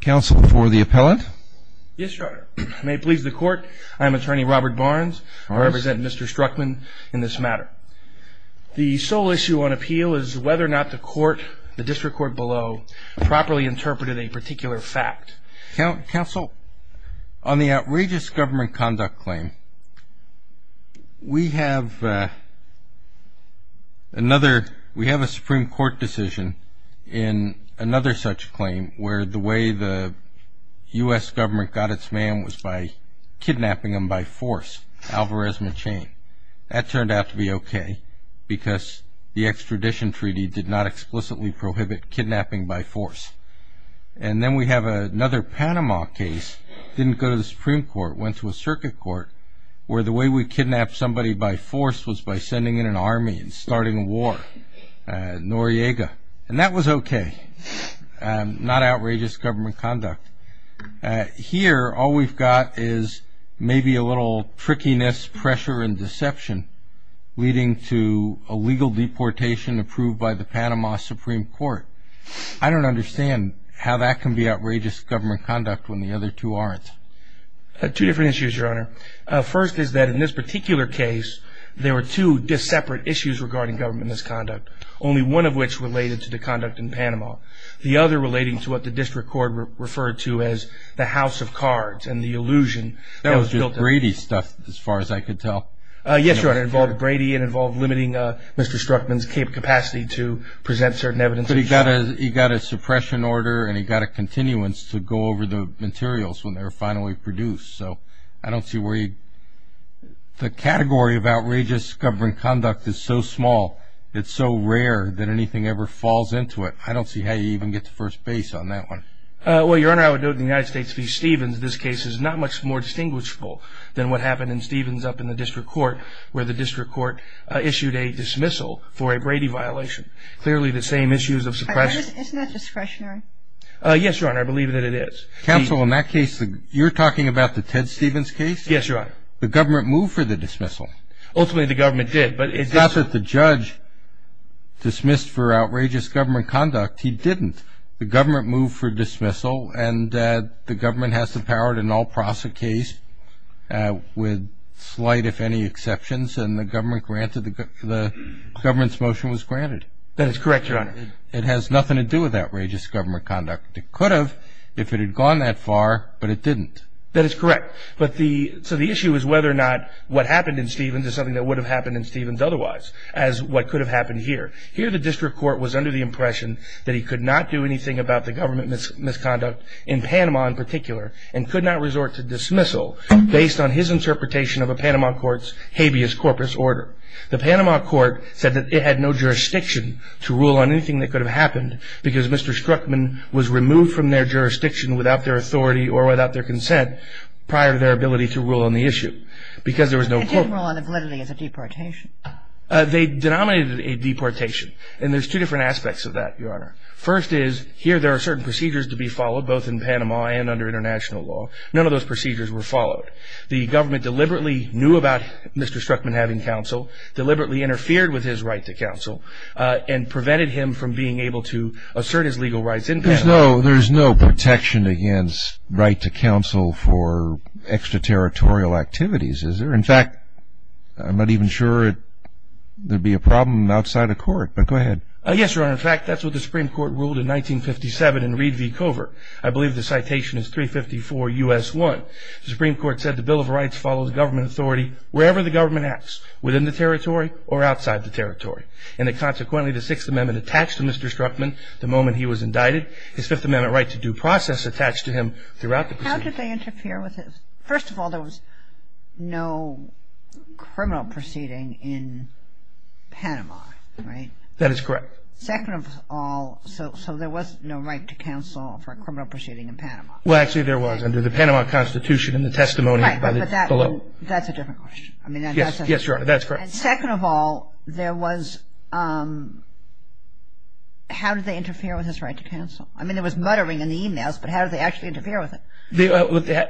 counsel for the appellant yes your honor I may please the court I'm attorney Robert Barnes I represent mr. Struckman in this matter the sole issue on appeal is whether or not the court the district court below properly interpreted a particular fact count counsel on the outrageous government conduct claim we have another we have a Supreme Court decision in another such claim where the way the US government got its man was by kidnapping him by force Alvarez machin that turned out to be okay because the extradition treaty did not explicitly prohibit kidnapping by force and then we have another Panama case didn't go to the Supreme Court went to a circuit court where the way we kidnap somebody by force was by sending in an army and starting a war Noriega and that was okay not outrageous government conduct here all we've got is maybe a little trickiness pressure and deception leading to a legal deportation approved by the Panama Supreme Court I don't understand how that can be outrageous government conduct when the other two aren't two different issues your honor first is that in this particular case there were two just separate issues regarding government misconduct only one of which related to the conduct in the other relating to what the district court referred to as the house of cards and the illusion that was built Brady stuff as far as I could tell yes your honor involved Brady and involved limiting Mr. Struckman's cape capacity to present certain evidence that he got a he got a suppression order and he got a continuance to go over the materials when they were finally produced so I don't see where you the category of outrageous government conduct is so small it's so rare that anything ever falls into it I don't see how you even get the first base on that one well your honor I would note the United States v. Stevens this case is not much more distinguishable than what happened in Stevens up in the district court where the district court issued a dismissal for a Brady violation clearly the same issues of suppression yes your honor I believe that it is counsel in that case that you're talking about the Ted Stevens case yes your honor the government move for the dismissal ultimately the government did but it's not that the judge dismissed for outrageous government conduct he didn't the government move for dismissal and that the government has the power to null process a case with slight if any exceptions and the government granted the government's motion was granted that is correct your honor it has nothing to do with outrageous government conduct it could have if it had gone that far but it didn't that is correct but the so the would have happened in Stevens otherwise as what could have happened here here the district court was under the impression that he could not do anything about the government misconduct in Panama in particular and could not resort to dismissal based on his interpretation of a Panama courts habeas corpus order the Panama Court said that it had no jurisdiction to rule on anything that could have happened because mr. Strzokman was removed from their jurisdiction without their authority or without their consent prior to their validity as a deportation they denominated a deportation and there's two different aspects of that your honor first is here there are certain procedures to be followed both in Panama and under international law none of those procedures were followed the government deliberately knew about mr. Strzokman having counsel deliberately interfered with his right to counsel and prevented him from being able to assert his legal rights in there's no there's no protection against right to counsel for extraterritorial activities is there in fact I'm not even sure it there'd be a problem outside of court but go ahead yes your honor in fact that's what the Supreme Court ruled in 1957 in Reed v Covert I believe the citation is 354 US 1 the Supreme Court said the Bill of Rights follows government authority wherever the government acts within the territory or outside the territory and it consequently the Sixth Amendment attached to mr. Strzokman the moment he was indicted his Fifth Amendment right to due process attached to him throughout the procedure. How did they interfere with it? First of all there was no criminal proceeding in Panama right? That is correct. Second of all so so there was no right to counsel for a criminal proceeding in Panama. Well actually there was under the Panama Constitution in the testimony. That's a different question. Yes your honor that's correct. Second of all there was how did they interfere with his right to counsel? I mean there was muttering in the emails but how did they actually interfere with it?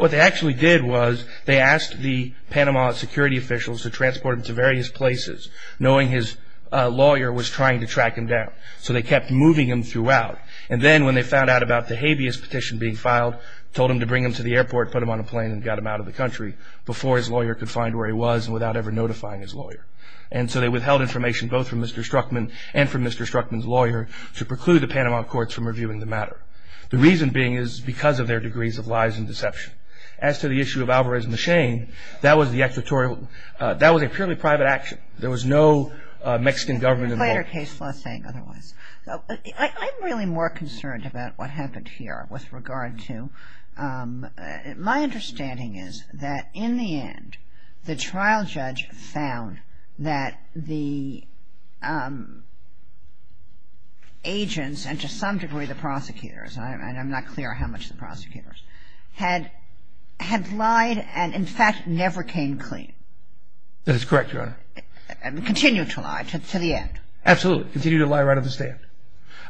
What they actually did was they asked the Panama security officials to transport him to various places knowing his lawyer was trying to track him down so they kept moving him throughout and then when they found out about the habeas petition being filed told him to bring him to the airport put him on a plane and got him out of the country before his lawyer could find where he was without ever notifying his lawyer and so they withheld information both from mr. Strzokman and from mr. Strzokman's lawyer to preclude the Panama courts from reviewing the matter. The reason being is because of their degrees of lies and as to the issue of Alvarez Machin that was the excretory that was a purely private action. There was no Mexican government involved. I'm really more concerned about what happened here with regard to my understanding is that in the end the trial judge found that the agents and to some degree the prosecutors and I'm not had lied and in fact never came clean. That is correct your honor. And continued to lie to the end. Absolutely continue to lie right of the stand.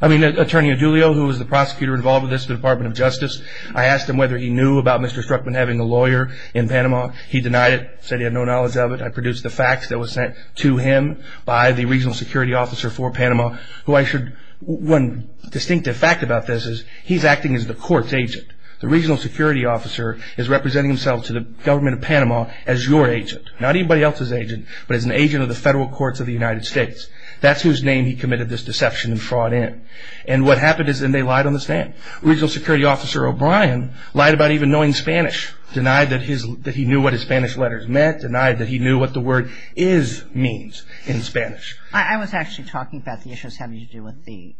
I mean attorney Adulio who was the prosecutor involved with this the Department of Justice I asked him whether he knew about mr. Strzokman having a lawyer in Panama he denied it said he had no knowledge of it I produced the facts that was sent to him by the regional security officer for Panama who I should one distinctive fact about this is he's acting as the courts agent the regional security officer is representing himself to the government of Panama as your agent not anybody else's agent but as an agent of the federal courts of the United States that's whose name he committed this deception and fraud in and what happened is then they lied on the stand regional security officer O'Brien lied about even knowing Spanish denied that he knew what his Spanish letters meant denied that he knew what the word is means in Spanish. I was actually talking about the issues having to do with the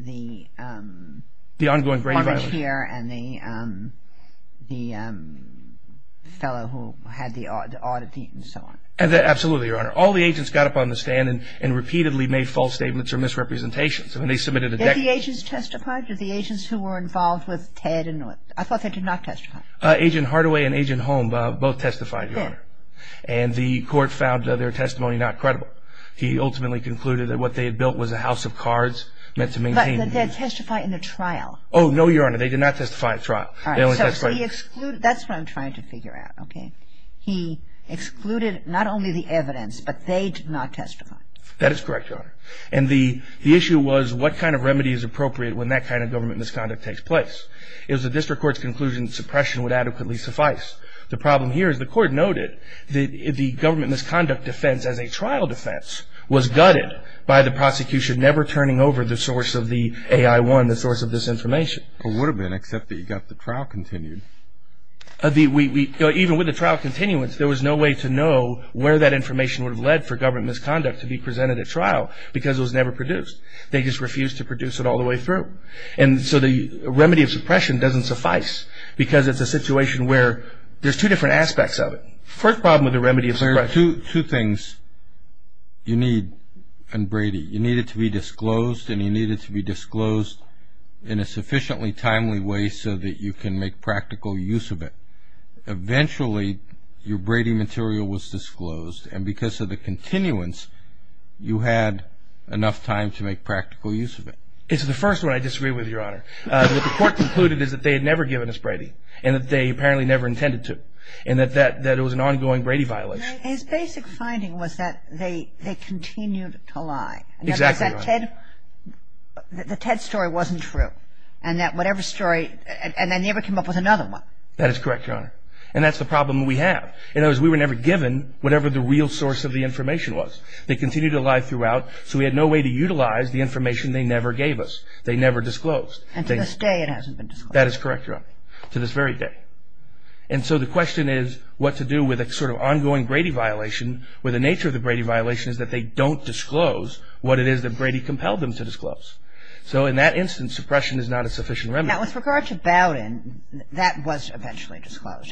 the the ongoing brain here and the the fellow who had the odd oddity and so on. Absolutely your honor all the agents got up on the stand and and repeatedly made false statements or misrepresentations and they submitted a declaration. Did the agents testify? Did the agents who were involved with Ted and I thought they did not testify. Agent Hardaway and agent Holm both testified your honor and the what they had built was a house of cards meant to maintain. But did they testify in the trial? Oh no your honor they did not testify in the trial. That's what I'm trying to figure out okay he excluded not only the evidence but they did not testify. That is correct your honor and the the issue was what kind of remedy is appropriate when that kind of government misconduct takes place. It was the district court's conclusion suppression would adequately suffice. The problem here is the court noted that if the government misconduct defense as a trial defense was gutted by the prosecution never turning over the source of the AI-1, the source of this information. It would have been except that you got the trial continued. Even with the trial continuance there was no way to know where that information would have led for government misconduct to be presented at trial because it was never produced. They just refused to produce it all the way through and so the remedy of suppression doesn't suffice because it's a situation where there's two different aspects of it. First problem with the remedy of suppression. There are two things you need in Brady. You need it to be disclosed and you need it to be disclosed in a sufficiently timely way so that you can make practical use of it. Eventually your Brady material was disclosed and because of the continuance you had enough time to make practical use of it. It's the first one I disagree with your honor. The court concluded is that they had never given us Brady and that they apparently never intended to and that it was an ongoing Brady violation. His basic finding was that they they continued to lie. Exactly. The Ted story wasn't true and that whatever story and they never came up with another one. That is correct your honor and that's the problem we have. In other words we were never given whatever the real source of the information was. They continued to lie throughout so we had no way to utilize the information they never gave us. They never disclosed. And to this day it hasn't been disclosed. That is correct your honor. To this very day. And so the question is what to do with a sort of ongoing Brady violation where the nature of the Brady violation is that they don't disclose what it is that Brady compelled them to disclose. So in that instance suppression is not a sufficient remedy. Now with regard to Bowden that was eventually disclosed.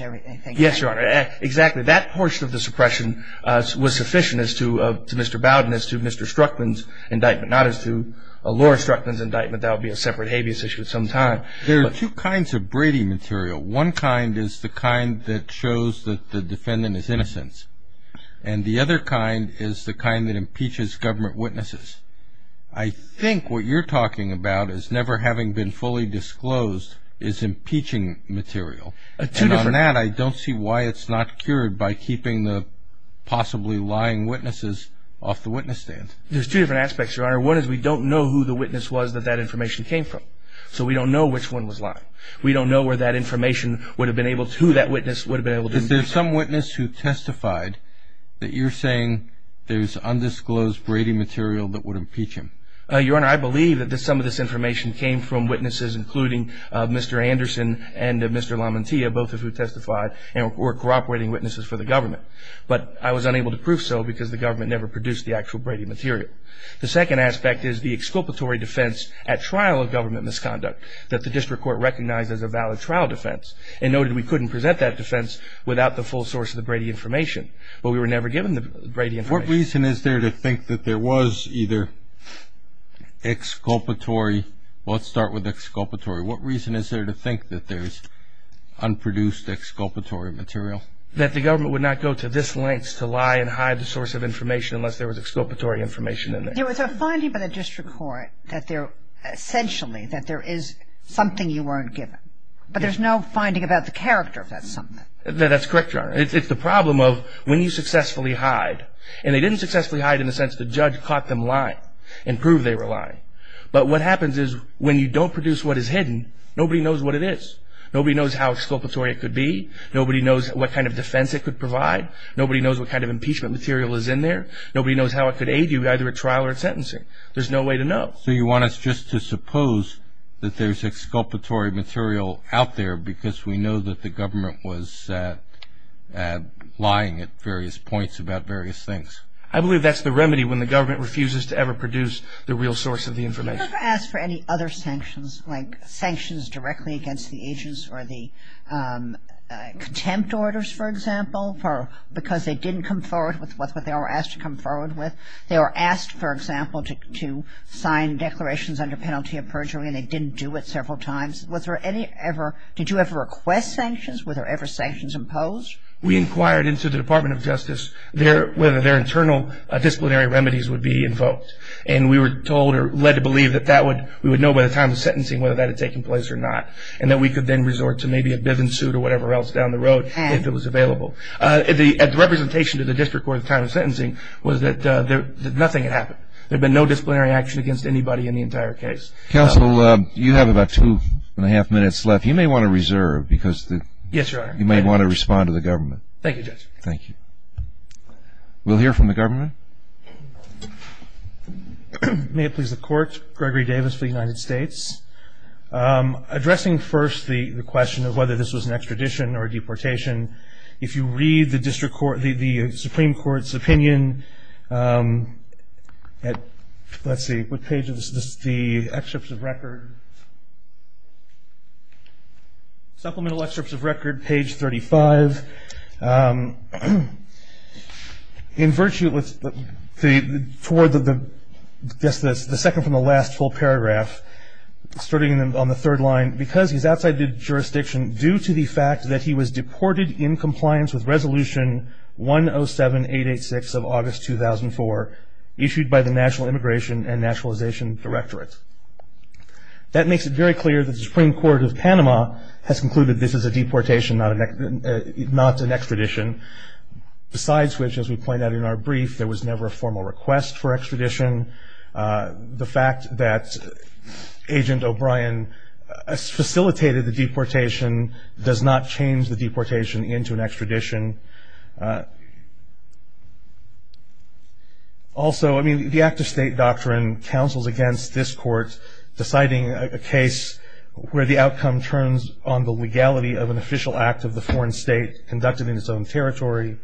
Yes your honor. Exactly. That portion of the suppression was sufficient as to Mr. Bowden as to Mr. Struckman's indictment not as to Laura Struckman's indictment. That would be a separate devious issue at some time. There are two kinds of Brady material. One kind is the kind that shows that the defendant is innocent. And the other kind is the kind that impeaches government witnesses. I think what you're talking about is never having been fully disclosed is impeaching material. And on that I don't see why it's not cured by keeping the possibly lying witnesses off the witness stand. There's two different aspects your honor. One is we don't know who the witness was that that information came from. So we don't know which one was lying. We don't know where that information would have been able to... who that witness would have been able to... Is there some witness who testified that you're saying there's undisclosed Brady material that would impeach him? Your honor I believe that some of this information came from witnesses including Mr. Anderson and Mr. Lamantia both of who testified and were cooperating witnesses for the government. But I was unable to prove so because the government never produced the actual Brady material. The second aspect is the exculpatory defense at trial of government misconduct that the district court recognized as a valid trial defense and noted we couldn't present that defense without the full source of the Brady information. But we were never given the Brady information. What reason is there to think that there was either exculpatory... let's start with exculpatory. What reason is there to think that there's unproduced exculpatory material? That the government would not go to this lengths to lie and hide the source of information unless there was exculpatory information in there. There was a finding by the district court that there essentially that there is something you weren't given. But there's no finding about the character of that something. That's correct your honor. It's the problem of when you successfully hide and they didn't successfully hide in the sense the judge caught them lying and proved they were lying. But what happens is when you don't produce what is hidden nobody knows what it is. Nobody knows how exculpatory it could be. Nobody knows what kind of defense it could provide. Nobody knows what kind of impeachment material is in there. Nobody knows how it could aid you either at trial or at sentencing. There's no way to know. So you want us just to suppose that there's exculpatory material out there because we know that the government was lying at various points about various things. I believe that's the remedy when the government refuses to ever produce the real source of the information. Have you ever asked for any other sanctions like sanctions directly against the agents or the contempt orders for example? Because they didn't come forward with what they were asked to come forward with. They were asked for example to sign declarations under penalty of perjury and they didn't do it several times. Did you ever request sanctions? Were there ever sanctions imposed? We inquired into the Department of Justice whether their internal disciplinary remedies would be invoked. And we were told or led to believe that we would know by the time of sentencing whether that had taken place or not. And that we could then resort to maybe a more reasonable. The representation to the district court at the time of sentencing was that nothing had happened. There had been no disciplinary action against anybody in the entire case. Counsel, you have about two and a half minutes left. You may want to reserve because you may want to respond to the government. Thank you, Judge. Thank you. We'll hear from the government. May it please the Court. Gregory Davis for the United States. Addressing first the question of whether this was an extradition or deportation. If you read the Supreme Court's opinion at, let's see, what page is this, the supplemental excerpts of record, page 35. In virtue with the second from the last full paragraph, starting on the due to the fact that he was deported in compliance with Resolution 107-886 of August 2004, issued by the National Immigration and Nationalization Directorate. That makes it very clear that the Supreme Court of Panama has concluded this is a deportation, not an extradition. Besides which, as we point out in our brief, there was never a formal request for extradition. The fact that Agent O'Brien facilitated the deportation does not change the deportation into an extradition. Also, I mean, the Act of State Doctrine counsels against this Court deciding a case where the outcome turns on the legality of an official act of the foreign state conducted in its own territory.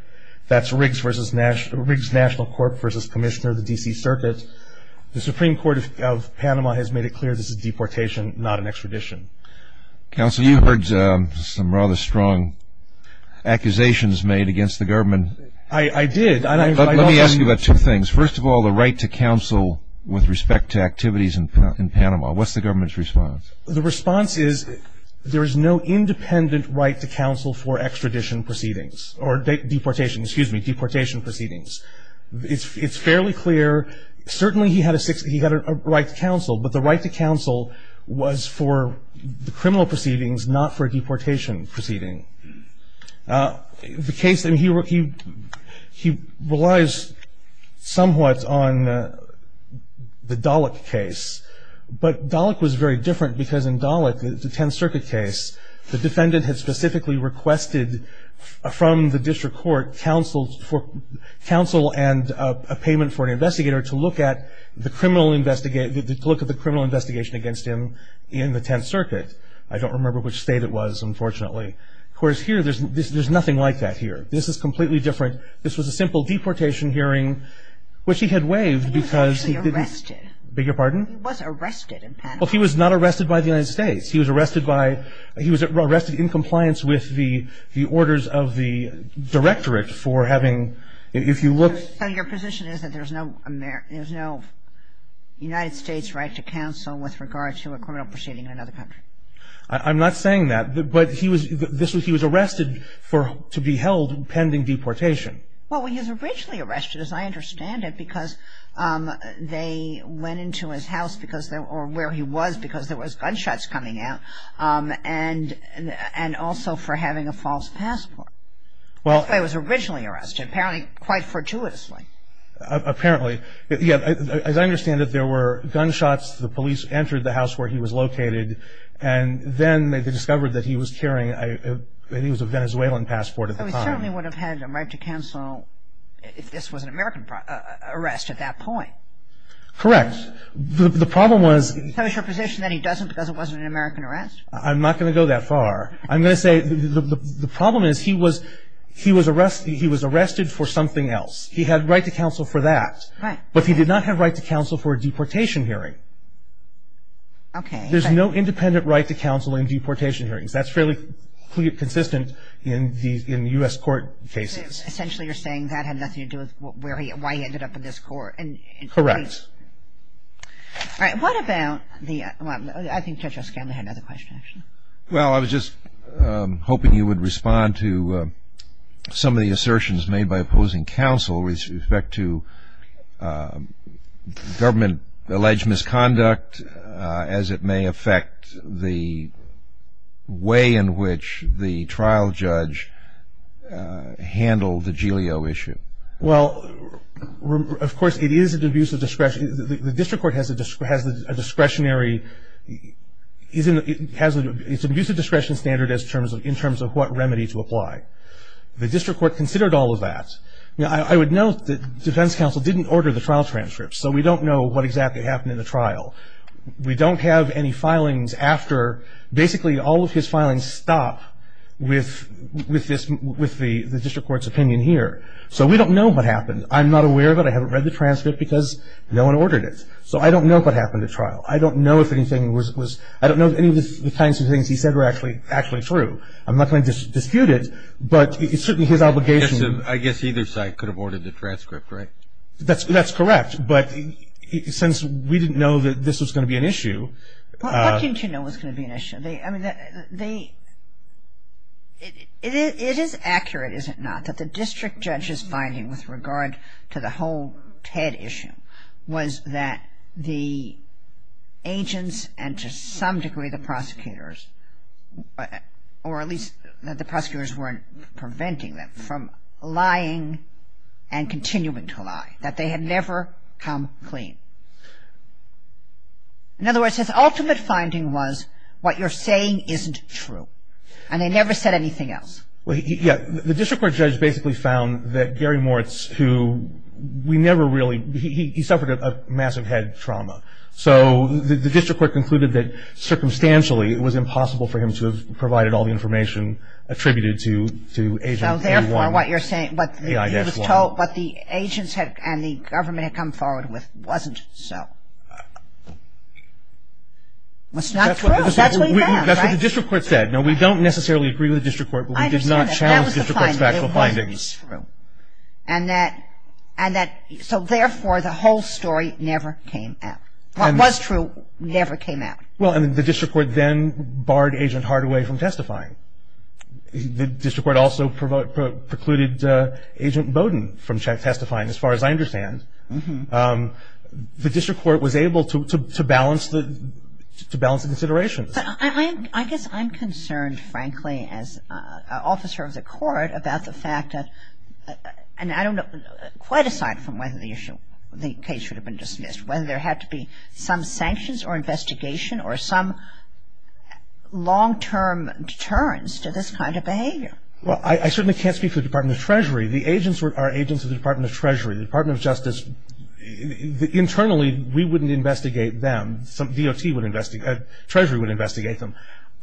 That's Riggs National Court versus Commissioner of the D.C. Circuit. The Supreme Court of Panama has made it clear this is a deportation, not an extradition. Counsel, you've heard some rather strong accusations made against the government. I did. Let me ask you about two things. First of all, the right to counsel with respect to activities in Panama. What's the government's response? The response is there is no independent right to counsel for extradition proceedings or deportation, excuse me, deportation proceedings. It's fairly clear, certainly he had a right to counsel, but the right to counsel was for the criminal proceedings, not for a deportation proceeding. The case, I mean, he relies somewhat on the Dalek case, but Dalek was very different because in Dalek, the Tenth Circuit case, the defendant had specifically requested from the district court counsel and a payment for an investigator to look at the criminal investigation against him in the Tenth Circuit. I don't remember which state it was, unfortunately. Of course, here, there's nothing like that here. This is completely different. This was a simple deportation hearing, which he had waived because he didn't- He was actually arrested. Beg your pardon? He was arrested in Panama. Well, he was not arrested by the United States. He was arrested in compliance with the orders of the directorate for having, if you look- So your position is that there's no United States right to counsel with regard to a criminal proceeding in another country? I'm not saying that, but he was arrested to be held pending deportation. Well, he was originally arrested, as I understand it, because they went into his house, or where he was, because there was gunshots coming out, and also for having a false passport. That's why he was originally arrested, apparently quite fortuitously. Apparently. As I understand it, there were gunshots. The police entered the house where he was located, and then they discovered that he was carrying- I think it was a Venezuelan passport at the time. So he certainly would have had a right to counsel if this was an American arrest at that point. Correct. The problem was- So is your position that he doesn't because it wasn't an American arrest? I'm not going to go that far. I'm going to say the problem is he was arrested for something else. He had right to counsel for that, but he did not have right to counsel for a deportation hearing. Okay. There's no independent right to counsel in deportation hearings. That's fairly consistent in U.S. court cases. Essentially, you're saying that had nothing to do with why he ended up in this court. Correct. All right. What about the- I think Judge O'Scanlan had another question, actually. Well, I was just hoping you would respond to some of the assertions made by opposing counsel with respect to government-alleged misconduct, as it may affect the way in which the trial judge handled the GEO issue. Well, of course, it is an abuse of discretion. The district court has a discretionary- it's an abuse of discretion standard in terms of what remedy to apply. The district court considered all of that. Now, I would note that defense counsel didn't order the trial transcripts, so we don't know what exactly happened in the trial. We don't have any filings after- basically, all of his filings stop with the district court's opinion here. So we don't know what happened. I'm not aware of it. I haven't read the transcript because no one ordered it. So I don't know what happened at trial. I don't know if anything was- I don't know if any of the kinds of things he said were actually true. I'm not going to dispute it, but it's certainly his obligation- I guess either side could have ordered the transcript, right? That's correct, but since we didn't know that this was going to be an issue- What didn't you know was going to be an issue? I mean, they- it is accurate, is it not, that the district judge's finding with regard to the whole Ted issue was that the agents, and to some degree the prosecutors, or at least that the prosecutors weren't preventing them from lying and continuing to lie, that they had never come clean. In other words, his ultimate finding was what you're saying isn't true, and they never said anything else. Yeah. The district court judge basically found that Gary Moritz, who we never really- he suffered a massive head trauma. So the district court concluded that, circumstantially, it was impossible for him to have provided all the information attributed to Agent A1. So, therefore, what you're saying, what the agents and the government had come forward with wasn't so. It's not true. That's what he found, right? That's what the district court said. Now, we don't necessarily agree with the district court, but we did not challenge the district court's I understand that. That was the finding. It wasn't true. And that- and that- so, therefore, the whole story never came out. What was true never came out. Well, and the district court then barred Agent Hardaway from testifying. The district court also precluded Agent Bowden from testifying, as far as I understand. The district court was able to balance the- to balance the considerations. I guess I'm concerned, frankly, as an officer of the court, about the fact that- and I don't know- quite aside from whether the issue- the case should have been dismissed, whether there had to be some sanctions or investigation or some long-term deterrence to this kind of behavior. Well, I certainly can't speak for the Department of Treasury. The agents were- are agents of the Department of Treasury. The Department of Justice- internally, we wouldn't investigate them. Some DOT would investigate- Treasury would investigate them.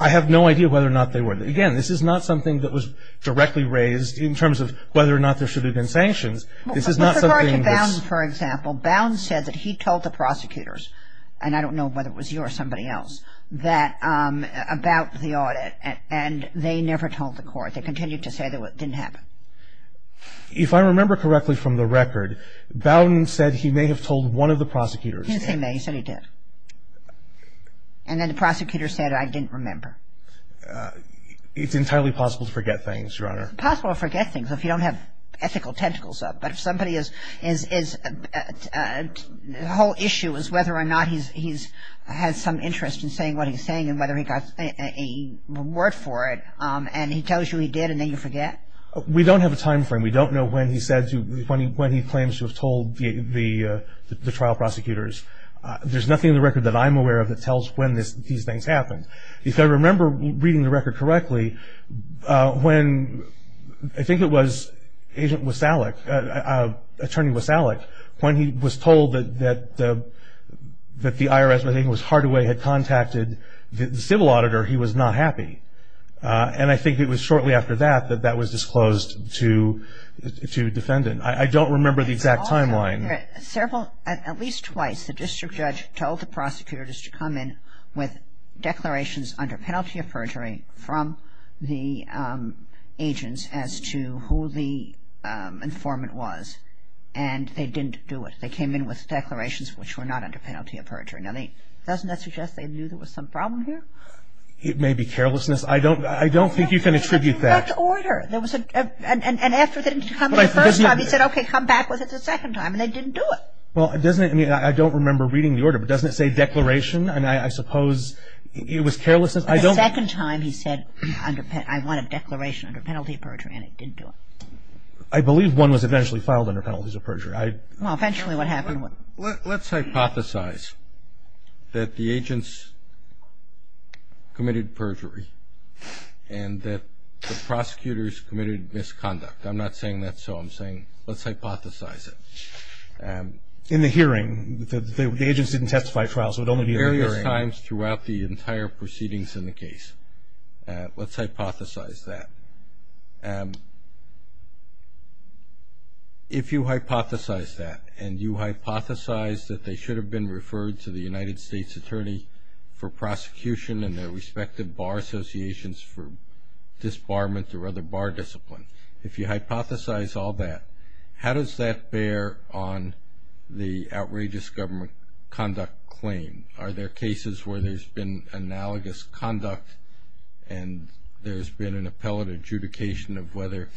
I have no idea whether or not they were. Again, this is not something that was directly raised in terms of whether or not there should have been sanctions. This is not something that's- Well, with regard to Bowden, for example, Bowden said that he told the prosecutors- and I don't know whether it was you or somebody else- that- about the audit. And they never told the court. They continued to say that it didn't happen. If I remember correctly from the record, Bowden said he may have told one of the prosecutors. He did say may. He said he did. And then the prosecutor said, I didn't remember. It's entirely possible to forget things, Your Honor. It's possible to forget things if you don't have ethical tentacles up. But if somebody is- the whole issue is whether or not he's- has some interest in saying what he's saying and whether he got a reward for it, and he tells you he did and then you forget? We don't have a time frame. We don't know when he said to- when he claims to have told the trial prosecutors. There's nothing in the record that I'm aware of that tells when these things happened. If I remember reading the record correctly, when- I think it was Agent Wasallick- Attorney Wasallick- when he was told that the IRS- I think it was Hardaway- had contacted the civil auditor, he was not happy. And I think it was shortly after that that that was disclosed to defendant. I don't remember the exact timeline. Several- at least twice the district judge told the prosecutors to come in with declarations under penalty of perjury from the agents as to who the informant was. And they didn't do it. They came in with declarations which were not under penalty of perjury. Now they- doesn't that suggest they knew there was some problem here? It may be carelessness. I don't- I don't think you can attribute that. It was the order. There was an effort to come in the first time. He said, okay, come back with it the second time. And they didn't do it. Well, doesn't it- I mean, I don't remember reading the order. But doesn't it say declaration? And I suppose it was carelessness. I don't- The second time he said under- I wanted declaration under penalty of perjury. And it didn't do it. I believe one was eventually filed under penalties of perjury. I- Well, eventually what happened was- Prosecutors committed misconduct. I'm not saying that's so. I'm saying let's hypothesize it. In the hearing, the agents didn't testify at trial, so it would only be- Various times throughout the entire proceedings in the case. Let's hypothesize that. If you hypothesize that, and you hypothesize that they should have been referred to the United States Attorney for prosecution and their respective bar associations for disbarment or other bar discipline. If you hypothesize all that, how does that bear on the outrageous government conduct claim? Are there cases where there's been analogous conduct and there's been an appellate adjudication of whether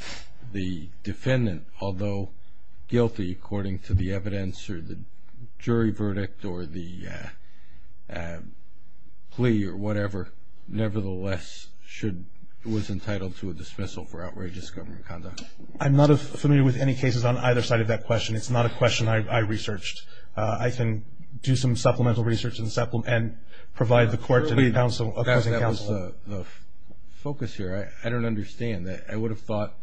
the defendant, although guilty according to the evidence or the jury verdict or the plea or whatever, nevertheless should- was entitled to a dismissal for outrageous government conduct? I'm not familiar with any cases on either side of that question. It's not a question I researched. I can do some supplemental research and provide the court- That was the focus here. I don't understand. I would have thought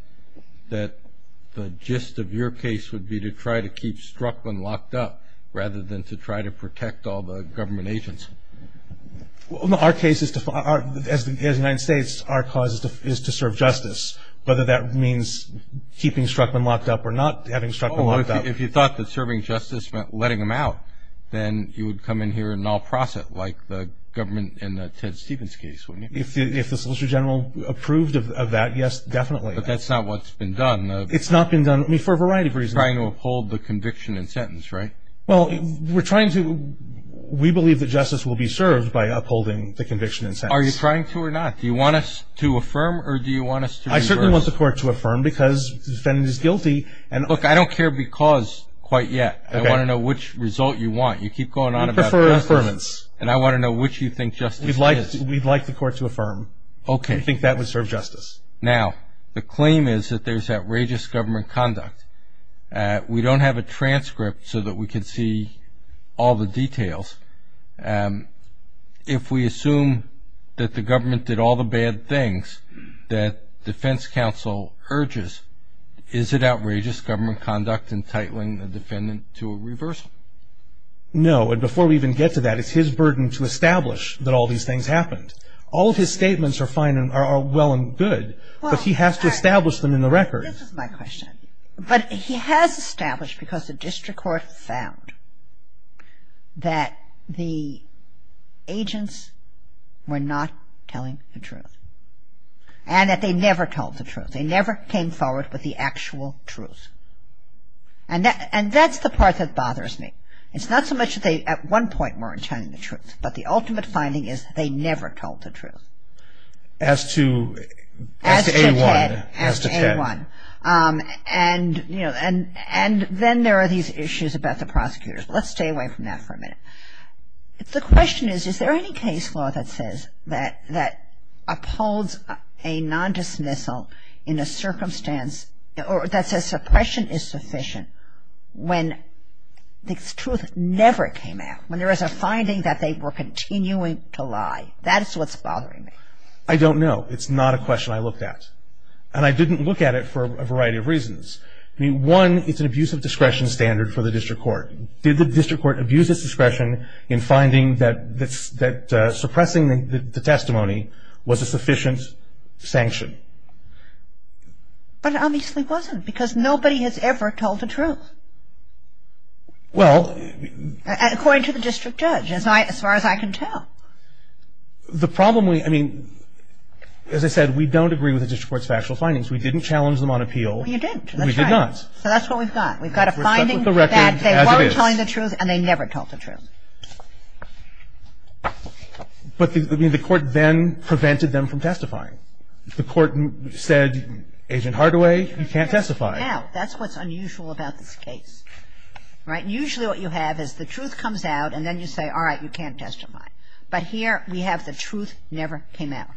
that the gist of your case would be to try to keep Struckman locked up rather than to try to protect all the government agents. Well, no. Our case is to- As the United States, our cause is to serve justice. Whether that means keeping Struckman locked up or not having Struckman locked up- Oh, if you thought that serving justice meant letting him out, then you would come in here and null process it like the government in the Ted Stephens case. If the Solicitor General approved of that, yes, definitely. But that's not what's been done. It's not been done for a variety of reasons. Trying to uphold the conviction and sentence, right? Well, we're trying to- We believe that justice will be served by upholding the conviction and sentence. Are you trying to or not? Do you want us to affirm or do you want us to reverse? I certainly want the court to affirm because the defendant is guilty. Look, I don't care because quite yet. I want to know which result you want. You keep going on about justice. We prefer affirmance. And I want to know which you think justice is. We'd like the court to affirm. Okay. We think that would serve justice. Now, the claim is that there's outrageous government conduct. We don't have a transcript so that we can see all the details. If we assume that the government did all the bad things that defense counsel urges, is it outrageous government conduct in titling the defendant to a reversal? No. And before we even get to that, it's his burden to establish that all these things happened. All of his statements are fine and are well and good, but he has to establish them in the records. This is my question. But he has established because the district court found that the agents were not telling the truth and that they never told the truth. They never came forward with the actual truth. And that's the part that bothers me. It's not so much that they at one point weren't telling the truth, but the ultimate finding is they never told the truth. As to A1. As to A1. And, you know, and then there are these issues about the prosecutors. Let's stay away from that for a minute. The question is, is there any case law that says that upholds a nondismissal in a circumstance that says suppression is sufficient when the truth never came out, when there is a finding that they were continuing to lie? That's what's bothering me. I don't know. It's not a question I looked at. And I didn't look at it for a variety of reasons. I mean, one, it's an abuse of discretion standard for the district court. Did the district court abuse its discretion in finding that suppressing the testimony was a sufficient sanction? But it obviously wasn't, because nobody has ever told the truth. Well. According to the district judge, as far as I can tell. The problem, I mean, as I said, we don't agree with the district court's factual findings. We didn't challenge them on appeal. You didn't. We did not. That's right. So that's what we've got. We've got a finding that they weren't telling the truth, and they never told the truth. But the court then prevented them from testifying. The court said, Agent Hardaway, you can't testify. Now, that's what's unusual about this case. Right? Usually what you have is the truth comes out, and then you say, all right, you can't testify. But here we have the truth never came out.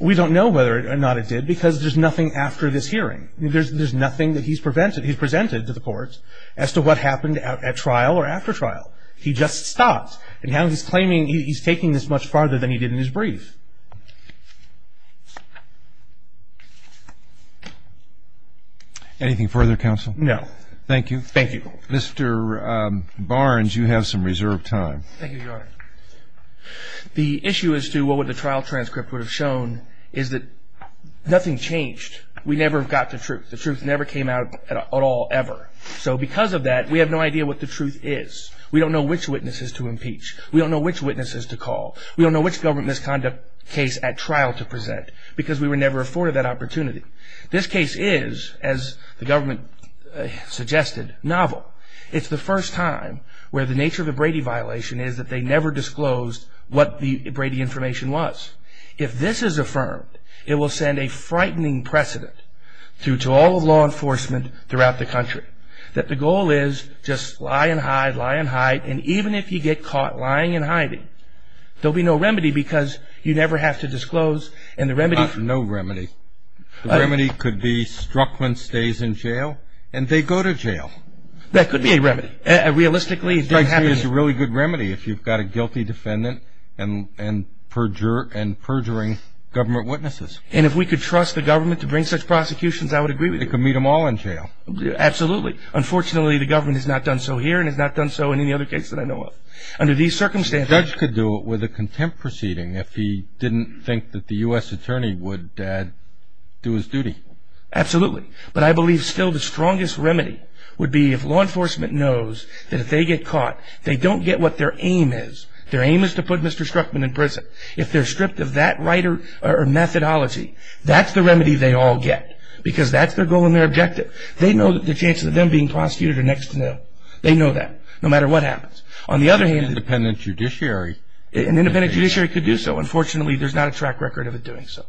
We don't know whether or not it did, because there's nothing after this hearing. There's nothing that he's presented to the courts as to what happened at trial or after trial. He just stopped. And now he's claiming he's taking this much farther than he did in his brief. Anything further, counsel? No. Thank you. Thank you. Mr. Barnes, you have some reserved time. Thank you, Your Honor. The issue as to what the trial transcript would have shown is that nothing changed. We never got the truth. The truth never came out at all, ever. So because of that, we have no idea what the truth is. We don't know which witnesses to impeach. We don't know which witnesses to call. We don't know which government misconduct case at trial to present, because we were never afforded that opportunity. This case is, as the government suggested, novel. It's the first time where the nature of the Brady violation is that they never disclosed what the Brady information was. If this is affirmed, it will send a frightening precedent to all of law enforcement throughout the country, that the goal is just lie and hide, lie and hide. And even if you get caught lying and hiding, there will be no remedy because you never have to disclose. And the remedy – No remedy. The remedy could be Struckman stays in jail and they go to jail. That could be a remedy. Realistically, it doesn't happen. It's a really good remedy if you've got a guilty defendant and perjuring government witnesses. And if we could trust the government to bring such prosecutions, I would agree with you. They could meet them all in jail. Absolutely. Unfortunately, the government has not done so here and has not done so in any other case that I know of. Under these circumstances – The judge could do it with a contempt proceeding if he didn't think that the U.S. attorney would do his duty. Absolutely. But I believe still the strongest remedy would be if law enforcement knows that if they get caught, they don't get what their aim is. Their aim is to put Mr. Struckman in prison. If they're stripped of that right or methodology, that's the remedy they all get, because that's their goal and their objective. They know that the chances of them being prosecuted are next to nil. They know that no matter what happens. On the other hand – An independent judiciary – An independent judiciary could do so. Unfortunately, there's not a track record of it doing so.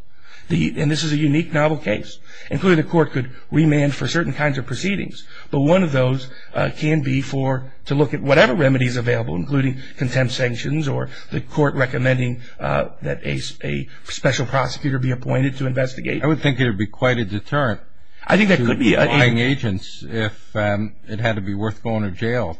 And this is a unique, novel case. And clearly the court could remand for certain kinds of proceedings. But one of those can be to look at whatever remedy is available, including contempt sanctions or the court recommending that a special prosecutor be appointed to investigate. I would think it would be quite a deterrent to lying agents if it had to be worth going to jail.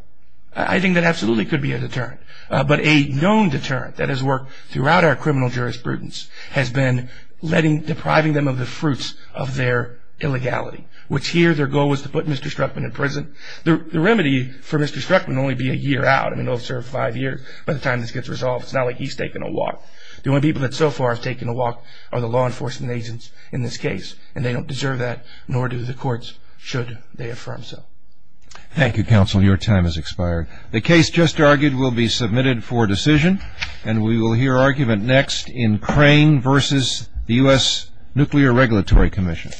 I think that absolutely could be a deterrent. But a known deterrent that has worked throughout our criminal jurisprudence has been depriving them of the fruits of their illegality, which here their goal was to put Mr. Struckman in prison. The remedy for Mr. Struckman would only be a year out. He'll have served five years by the time this gets resolved. It's not like he's taking a walk. The only people that so far have taken a walk are the law enforcement agents in this case. And they don't deserve that, nor do the courts, should they affirm so. Thank you, counsel. Your time has expired. The case just argued will be submitted for decision. And we will hear argument next in Crane v. U.S. Nuclear Regulatory Commission.